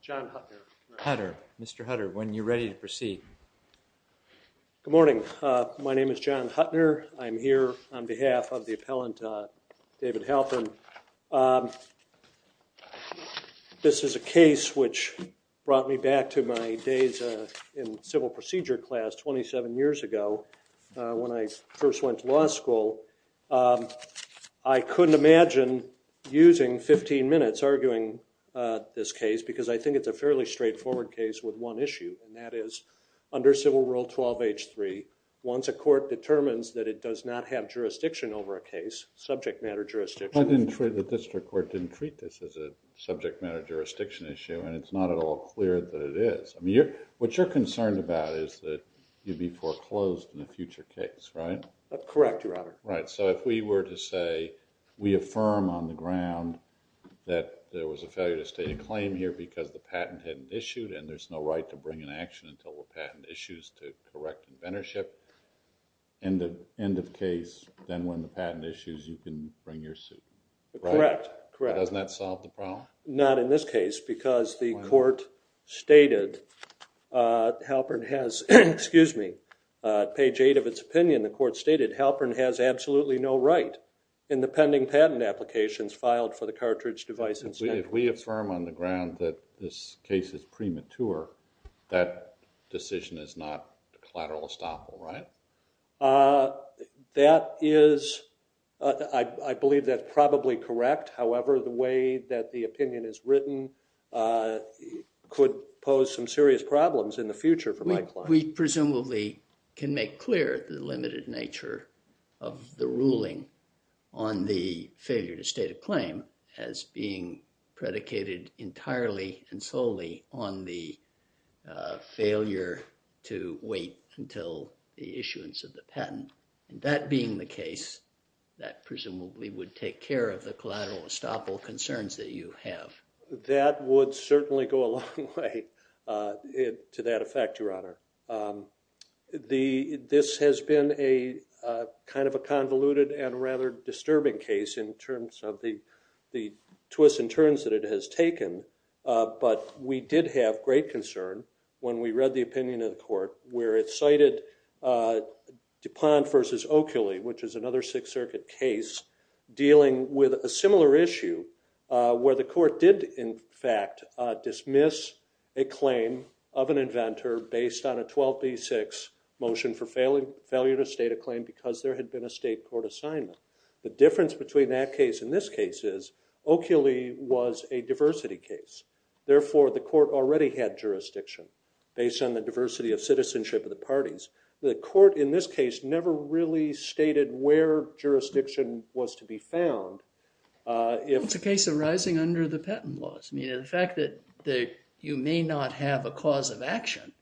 John Hutner, when you are ready to proceed Good morning, my name is John Hutner, I am here on behalf of the appellant David Halpern. This is a case which brought me back to my days in civil procedure class 27 years ago when I first went to law school. I couldn't imagine using 15 minutes arguing this case because I think it's a fairly straightforward case with one issue and that is under civil rule 12 H 3 once a court determines that it does not have jurisdiction over a case subject matter jurisdiction. I didn't trade the district court didn't treat this as a subject matter jurisdiction issue and it's not at all clear that it is I mean you're what you're concerned about is that you'd be foreclosed in a future case right? Correct your honor. Right so if we were to say we affirm on the ground that there was a failure to state a claim here because the patent hadn't issued and there's no right to bring an action until the patent issues to correct inventorship and the end of case then when the patent issues you can bring your suit. Correct. Doesn't that mean that Halpern has excuse me page 8 of its opinion the court stated Halpern has absolutely no right in the pending patent applications filed for the cartridge devices. If we affirm on the ground that this case is premature that decision is not collateral estoppel right? That is I believe that probably correct however the way that the opinion is written could pose some serious problems in the future for my client. We presumably can make clear the limited nature of the ruling on the failure to state a claim as being predicated entirely and solely on the failure to wait until the issuance of the patent and that being the case that presumably would take care of the collateral estoppel concerns that you have. That would certainly go a long way to that effect your honor. This has been a kind of a convoluted and rather disturbing case in terms of the the twists and turns that it has taken but we did have great concern when we read the opinion of the court where it cited DuPont versus Oakley which is another Sixth Circuit case dealing with a similar issue where the court did in fact dismiss a claim of an inventor based on a 12b6 motion for failing failure to state a claim because there had been a state court assignment. The difference between that case in this case is Oakley was a diversity case therefore the court already had jurisdiction based on the diversity of citizenship of the parties. The court in this case never really stated where jurisdiction was to be found. It's a case arising under the patent laws. I mean the fact that you may not have a cause of action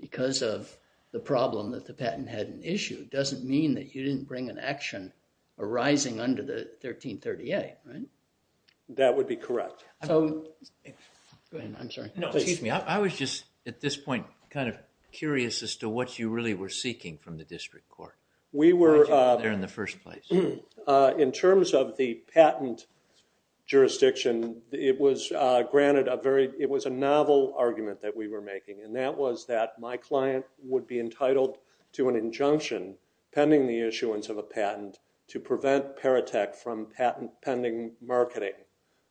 because of the problem that the patent had an issue doesn't mean that you didn't bring an action arising under the 1338 right? That would be correct. I was just at this point kind of curious as to what you really were seeking from the district court. We were there in the first place. In terms of the patent jurisdiction it was granted a very it was a novel argument that we were making and that was that my client would be entitled to an injunction pending the issuance of a patent to prevent Paratec from patent pending marketing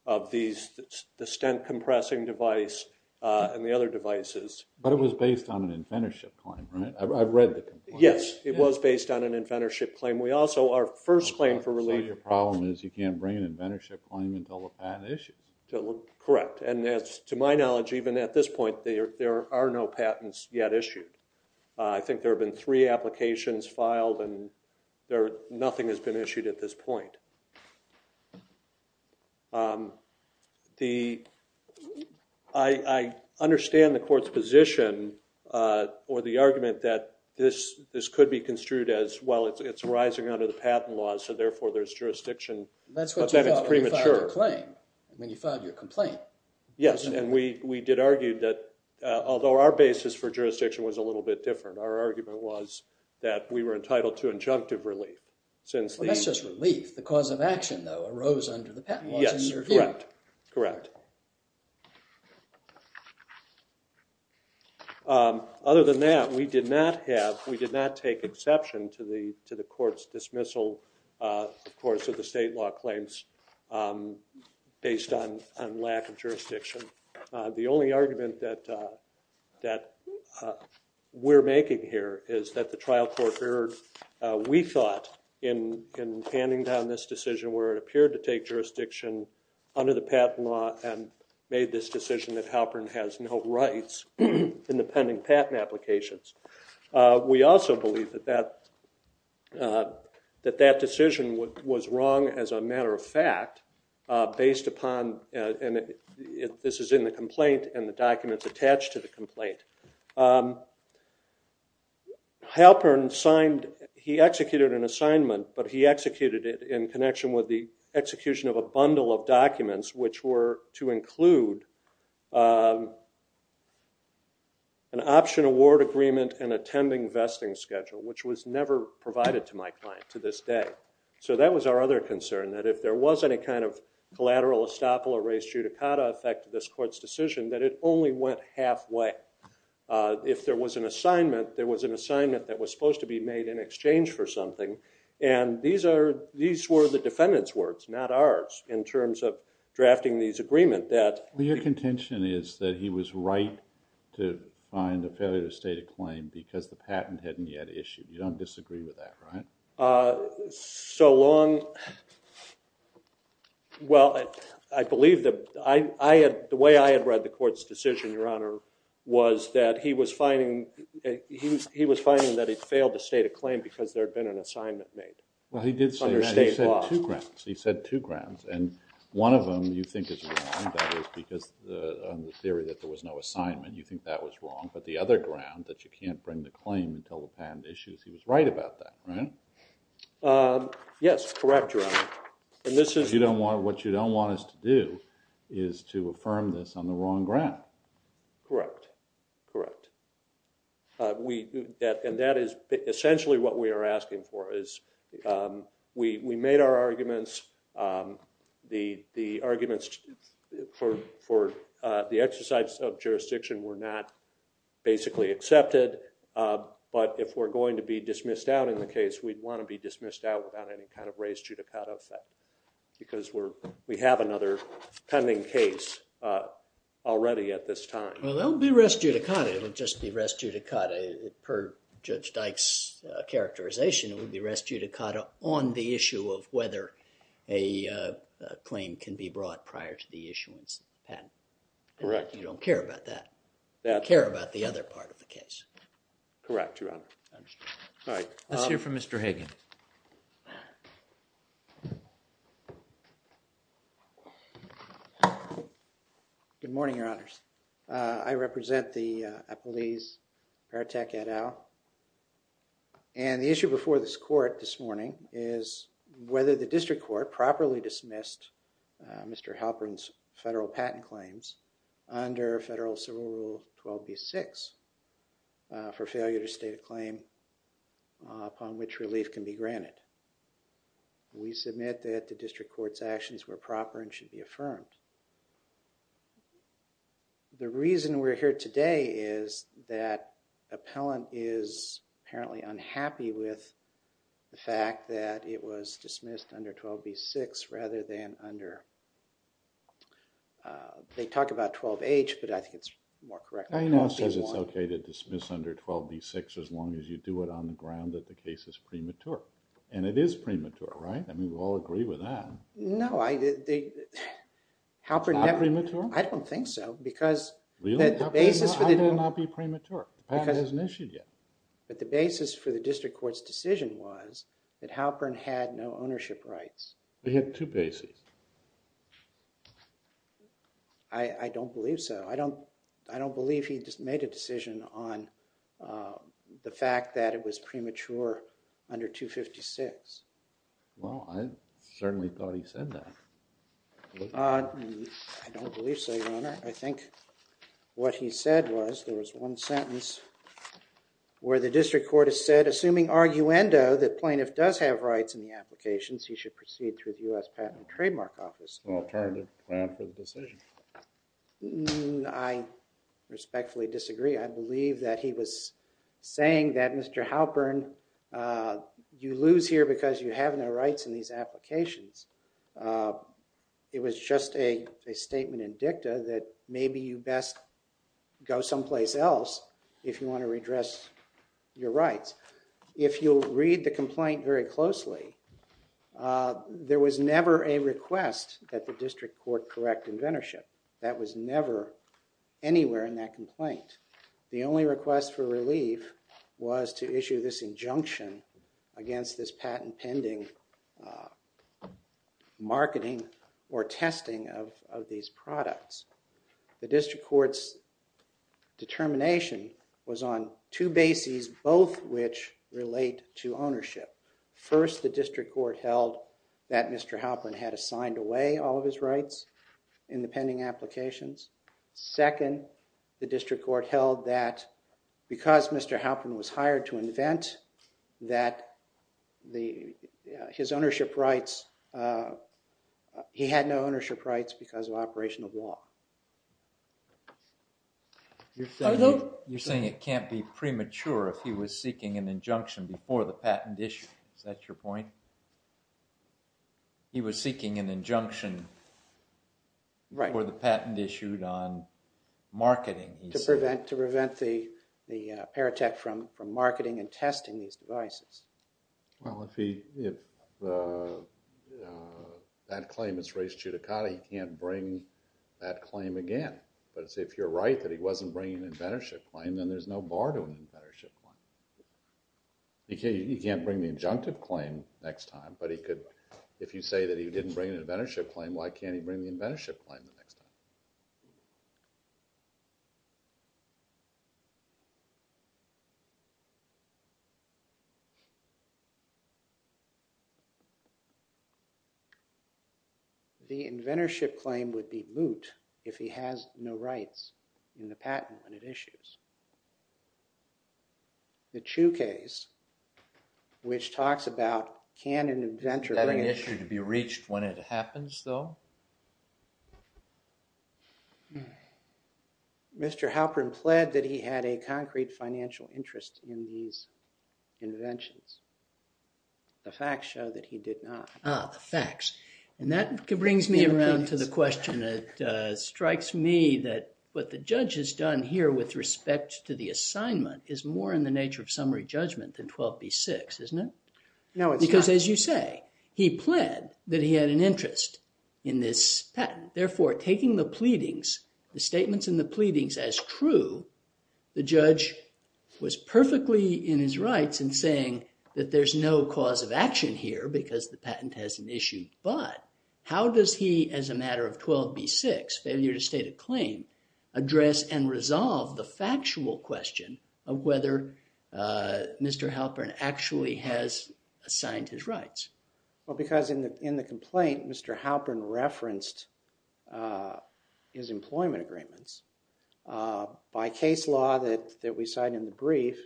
of these the stent compressing device and the other devices. But it was based on an inventorship claim right? I've read the complaint. Yes it was based on an inventorship claim. We also our first claim for relief. Your problem is you can't bring an inventorship claim until the patent issues. Correct and that's to my knowledge even at this point they are there are no patents yet issued. I think there have been three applications filed and there nothing has been issued at this point. I understand the court's position or the argument that this this could be construed as well it's rising out of the patent laws so therefore there's jurisdiction. That's premature. I mean you filed your complaint. Yes and we we did argue that although our basis for jurisdiction was a little bit different our argument was that we were entitled to injunctive relief. That's just relief. The cause of action though arose under the patent laws. Yes correct. Other than that we did not have we did not take exception to the to the court's dismissal of course of the state law claims based on lack of jurisdiction. The only argument that that we're making here is that the trial court erred. We thought in in handing down this decision where it appeared to take jurisdiction under the patent law and made this decision that Halpern has no rights in the pending patent applications. We also believe that that that that decision was wrong as a matter of fact based upon and if this is in the complaint and the documents attached to the complaint Halpern signed he executed an assignment but he executed it in connection with the execution of a bundle of documents which were to include an option award agreement and attending vesting schedule which was never provided to my client to this day. So that was our other concern that if there was any kind of collateral estoppel or res judicata effect to this we went halfway. If there was an assignment there was an assignment that was supposed to be made in exchange for something and these are these were the defendants words not ours in terms of drafting these agreement that. Well your contention is that he was right to find a failure to state a claim because the patent hadn't yet issued. You don't disagree with that right? So long well I believe that I had the way I had read the court's decision your honor was that he was finding he was finding that he'd failed to state a claim because there had been an assignment made. Well he did say he said two grounds and one of them you think is because the theory that there was no assignment you think that was wrong but the other ground that you can't bring the claim until the patent issues he was right about that right? Yes correct your honor and this is you don't want what you don't want us to do is to affirm this on the wrong ground. Correct correct we and that is essentially what we are asking for is we we made our arguments the the arguments for for the exercise of jurisdiction were not basically accepted but if we're going to be dismissed out in the case we'd want to be dismissed out without any kind of res judicata effect because we're we have another pending case already at this time. Well they'll be res judicata it'll just be res judicata per Judge Dykes characterization it would be res judicata on the issue of whether a claim can be brought prior to the issuance patent. Correct. You don't care about that that care about the part of the case. Correct your honor. Let's hear from Mr. Hagan. Good morning your honors I represent the Applebee's Paratec et al and the issue before this court this morning is whether the district court properly dismissed Mr. Patton claims under federal civil rule 12b6 for failure to state a claim upon which relief can be granted. We submit that the district courts actions were proper and should be affirmed. The reason we're here today is that appellant is apparently unhappy with the fact that it was dismissed under 12b6 rather than under they talk about 12h but I think it's more correct. I know says it's okay to dismiss under 12b6 as long as you do it on the ground that the case is premature and it is premature right I mean we all agree with that. No I did they Halpern. Not premature? I don't think so because the basis for the. How can it not be premature? The patent isn't issued yet. But the basis for the district court's decision was that Halpern had no ownership rights. He had two bases. I don't believe so. I don't I don't believe he just made a decision on the fact that it was premature under 256. Well I certainly thought he said that. I don't believe so your honor. I think what he said was there was one sentence where the district court has said assuming arguendo that plaintiff does have rights in the applications he should proceed through the US Patent and Trademark Office. Alternative plan for the decision. I respectfully disagree. I believe that he was saying that Mr. Halpern you lose here because you have no rights in these applications. It was just a statement in dicta that maybe you best go someplace else if you want to redress your rights. If you read the complaint very closely there was never a request that the district court correct inventorship. That was never anywhere in that complaint. The only request for relief was to issue this injunction against this patent pending marketing or testing of these products. The district court's determination was on two bases both which relate to ownership. First the district court held that Mr. Halpern had assigned away all of his rights in the pending applications. Second the district court held that because Mr. Halpern was hired to invent that the his ownership rights he had no ownership rights because of operational law. You're saying it can't be premature if he was seeking an injunction before the patent issue. Is that your point? He was seeking an injunction before the patent issued on marketing. To prevent to prevent the the paratech from from marketing and testing these devices. Well if that claim is raised to the county he can't bring that claim again. But it's if you're right that he wasn't bringing an inventorship claim then there's no bar to an inventorship claim. He can't bring the injunctive claim next time but he could if you say that he didn't bring an inventorship claim why can't he bring the inventorship claim the next time? The inventorship claim would be moot if he has no rights in the patent when it issues. The Chu case which talks about can an inventor... Is that an issue to be reached when it happens though? Mr. Halpern pled that he had a concrete financial interest in these inventions. The facts show that he did not. Ah, the facts. And that brings me around to the question that strikes me that what the judge has done here with respect to the assignment is more in the nature of summary judgment than 12b6 isn't it? No it's not. Because as you say he pled that he had an interest in this patent therefore taking the pleadings the statements in the pleadings as true the judge was perfectly in his rights in saying that there's no cause of action here because the patent has an issue but how does he as a matter of 12b6 failure to state a claim address and resolve the factual question of whether Mr. Halpern actually has assigned his rights? Well because in the in the complaint Mr. Halpern referenced his employment agreements by case law that that we cite in the brief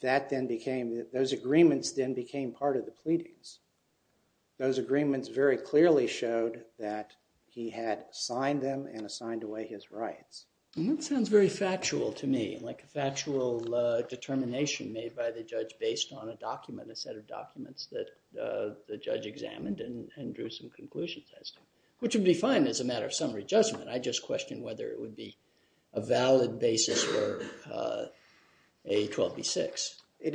that then became those agreements then became part of the pleadings those agreements very clearly showed that he had signed them and assigned away his rights. That sounds very factual to me like a factual determination made by the judge based on a document a set of documents that the judge examined and drew some conclusions as to which would be fine as a matter of summary judgment I just question whether it would be a valid basis for a 12b6. It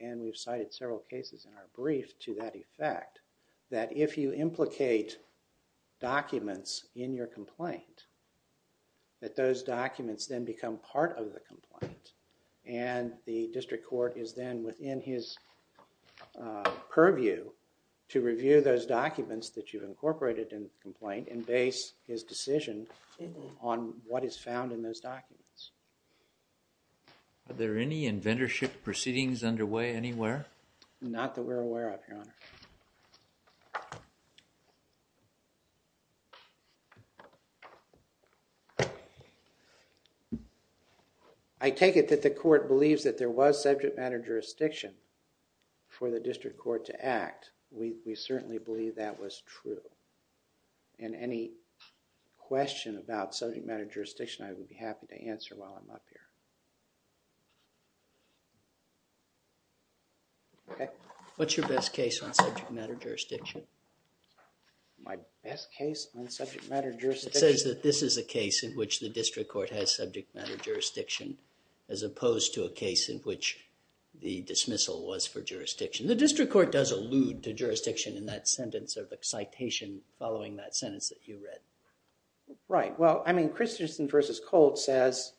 and we've cited several cases in our brief to that effect that if you implicate documents in your complaint that those documents then become part of the complaint and the district court is then within his purview to review those documents that you've incorporated in complaint and base his decision on what is found in those documents. Are there any inventorship proceedings underway anywhere? Not that we're aware of, Your Honor. I take it that the court believes that there was subject matter jurisdiction for the district court to act. We certainly believe that was true and any question about subject matter What's your best case on subject matter jurisdiction? My best case on subject matter jurisdiction? It says that this is a case in which the district court has subject matter jurisdiction as opposed to a case in which the dismissal was for jurisdiction. The district court does allude to jurisdiction in that sentence of excitation following that sentence that you read. Right, well I mean Christensen versus Colt says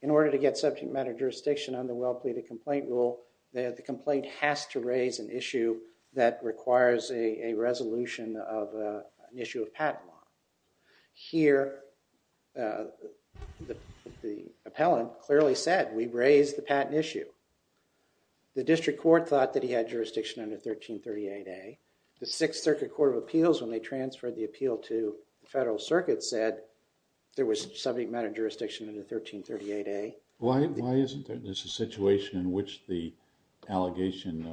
in order to get subject matter jurisdiction on the complaint rule that the complaint has to raise an issue that requires a resolution of an issue of patent law. Here the appellant clearly said we raised the patent issue. The district court thought that he had jurisdiction under 1338A. The Sixth Circuit Court of Appeals when they transferred the appeal to the Federal Circuit said there was subject matter jurisdiction under 1338A. Why isn't there? There's a situation in which the allegation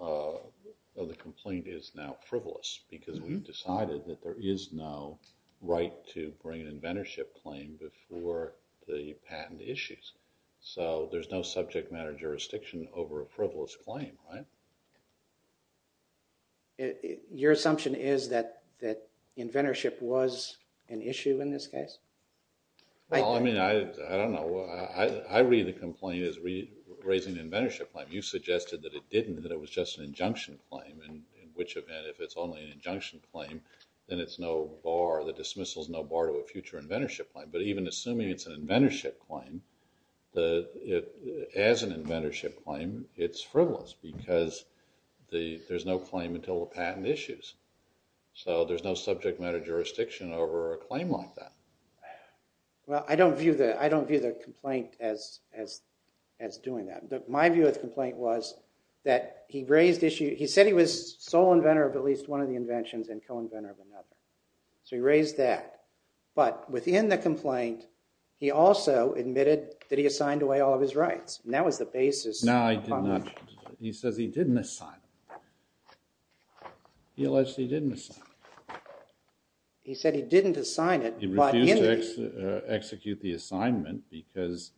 of the complaint is now frivolous because we've decided that there is no right to bring an inventorship claim before the patent issues. So there's no subject matter jurisdiction over a frivolous claim, right? Your assumption is that I read the complaint as raising an inventorship claim. You suggested that it didn't, that it was just an injunction claim and in which event if it's only an injunction claim then it's no bar, the dismissal is no bar to a future inventorship claim. But even assuming it's an inventorship claim, as an inventorship claim it's frivolous because there's no claim until the patent issues. So there's no subject matter jurisdiction over a claim like that. Well I don't view the complaint as doing that. My view of the complaint was that he raised issue, he said he was sole inventor of at least one of the inventions and co-inventor of another. So he raised that. But within the complaint he also admitted that he assigned away all of his rights. That was the basis. No, he says he didn't assign. He allegedly didn't assign. He said he didn't assign it. He refused to execute the assignment because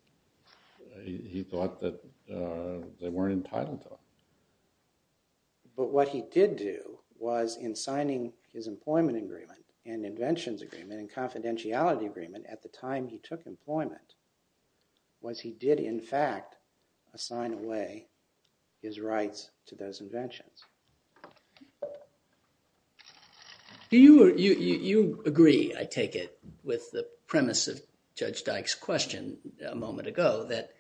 he thought that they weren't entitled to. But what he did do was in signing his employment agreement and inventions agreement and confidentiality agreement at the time he took employment, was he did in fact assign away his rights to those I take it with the premise of Judge Dyke's question a moment ago that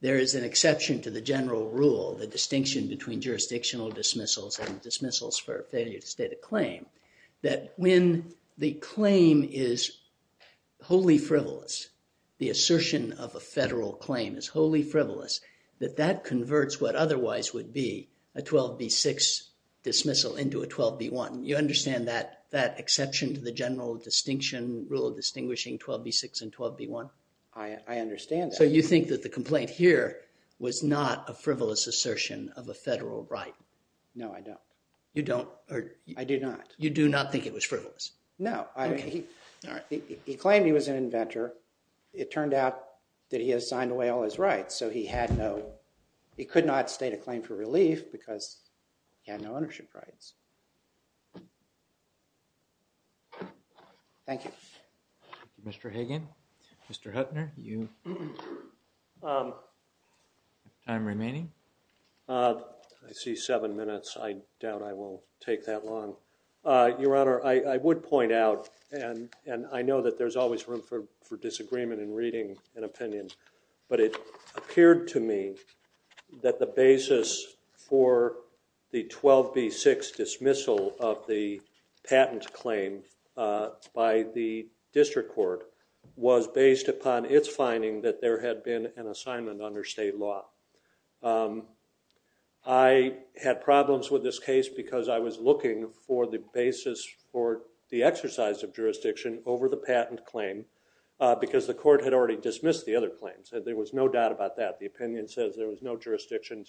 there is an exception to the general rule, the distinction between jurisdictional dismissals and dismissals for failure to state a claim, that when the claim is wholly frivolous, the assertion of a federal claim is wholly frivolous, that that converts what otherwise would be a 12b6 dismissal into a 12b1. You accept that exception to the general distinction rule of distinguishing 12b6 and 12b1? I understand. So you think that the complaint here was not a frivolous assertion of a federal right? No, I don't. You don't? I do not. You do not think it was frivolous? No. He claimed he was an inventor. It turned out that he assigned away all his rights so he had no, he could not state a claim for Thank you. Mr. Hagan, Mr. Huttner, time remaining? I see seven minutes. I doubt I will take that long. Your Honor, I would point out, and I know that there's always room for disagreement in reading an opinion, but it appeared to me that the basis for the 12b6 dismissal of the patent claim by the district court was based upon its finding that there had been an assignment under state law. I had problems with this case because I was looking for the basis for the exercise of jurisdiction over the patent claim because the court had already dismissed the other claims and there was no doubt about that. The opinion says there was no jurisdiction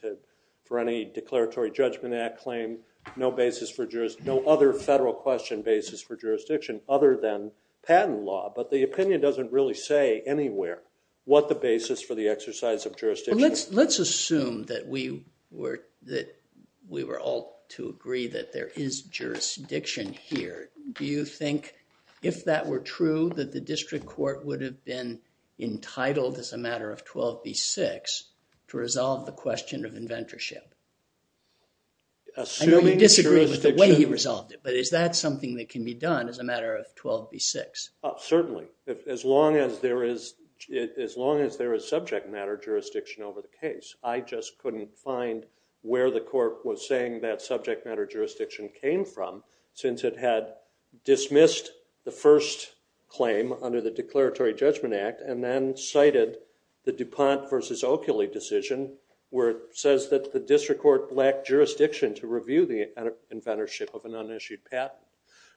for any Declaratory Judgment Act claim, no basis for jurisdiction, no other federal question basis for jurisdiction other than patent law, but the opinion doesn't really say anywhere what the basis for the exercise of jurisdiction is. Let's assume that we were all to agree that there is jurisdiction here. Do you think, if that were true, that the district court would have been entitled, as a matter of 12b6, to resolve the question of inventorship? I know you disagree with the way he resolved it, but is that something that can be done as a matter of 12b6? Certainly, as long as there is subject matter jurisdiction over the case. I just couldn't find where the court was saying that subject matter jurisdiction came from since it had dismissed the first claim under the Declaratory Judgment Act and then cited the DuPont versus Oakley decision where it says that the district court lacked jurisdiction to review the inventorship of an unissued patent.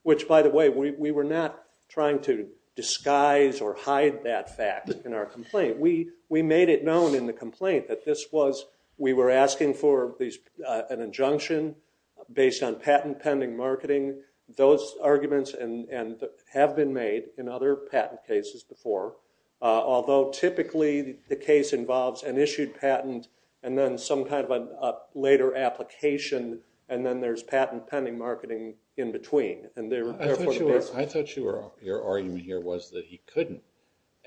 Which, by the way, we were not trying to disguise or hide that fact in our complaint. We made it known in the complaint that this was, we were asking for an injunction based on patent pending marketing. Those arguments have been made in other patent cases before, although typically the case involves an issued patent and then some kind of a later application and then there's patent pending marketing in between. I thought your argument here was that he couldn't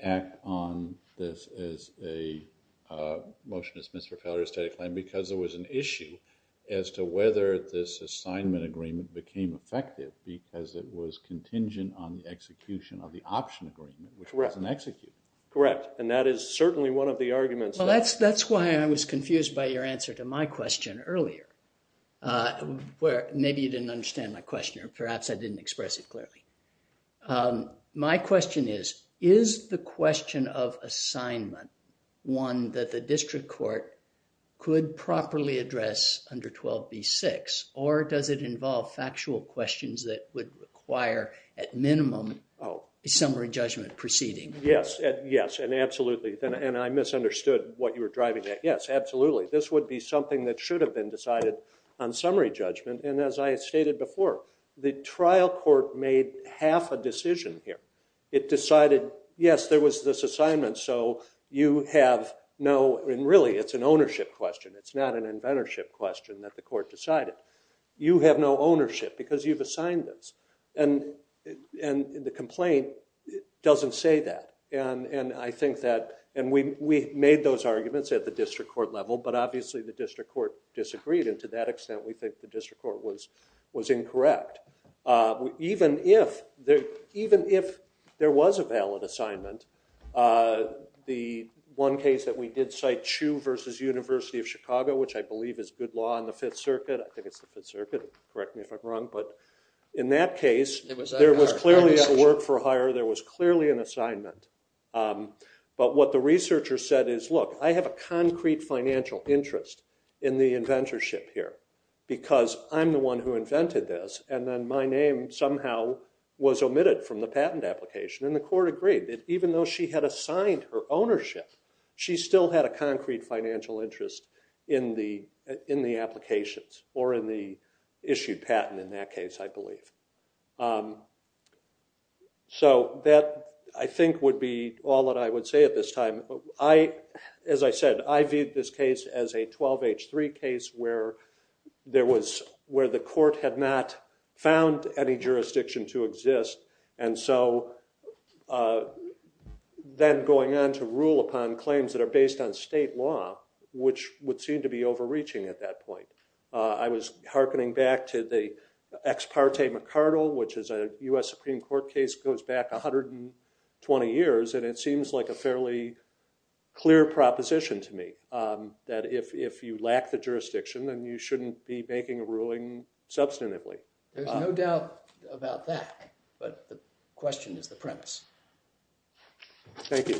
act on this as a motion that's dismissed for failure of a stated claim because there was an issue as to whether this assignment agreement became effective because it was contingent on the execution of the option agreement, which wasn't executed. Correct, and that is certainly one of the arguments. That's why I was confused by your answer to my question earlier, where maybe you didn't understand my question or perhaps I didn't express it clearly. My question is, is the question of assignment one that the district court could properly address under 12b-6 or does it involve factual questions that would require, at minimum, a summary judgment proceeding? Yes, yes, and absolutely, and I misunderstood what you were driving at. Yes, absolutely. This would be something that should have been decided on summary judgment and, as I stated before, the trial court made half a decision here. It decided, yes, there was this assignment, so you have no, and really, it's an ownership question. It's not an inventorship question that the court decided. You have no ownership because you've assigned this, and the complaint doesn't say that, and I think that, and we made those arguments at the district court level, but obviously, the district court disagreed, and to that extent, we think the district court was incorrect. Even if there was a valid assignment, the one case that we did cite, Chu versus University of Chicago, which I believe is good law in the Fifth Circuit. I think it's the Fifth Circuit. Correct me if I'm wrong, but in that case, there was clearly a work-for-hire. There was clearly an assignment, but what the researcher said is, look, I have a I'm the one who invented this, and then my name somehow was omitted from the patent application, and the court agreed that even though she had assigned her ownership, she still had a concrete financial interest in the applications or in the issued patent in that case, I believe. So that, I think, would be all that I would say at this time. As I said, I viewed this case as a 12H3 case where the court had not found any jurisdiction to exist, and so then going on to rule upon claims that are based on state law, which would seem to be overreaching at that point. I was hearkening back to the ex parte McCardell, which is a US Supreme Court case that goes back 120 years, and it seems like a fairly clear proposition to me, that if you lack the jurisdiction, then you shouldn't be making a ruling substantively. There's no doubt about that, but the question is the premise. Thank you. Thank you.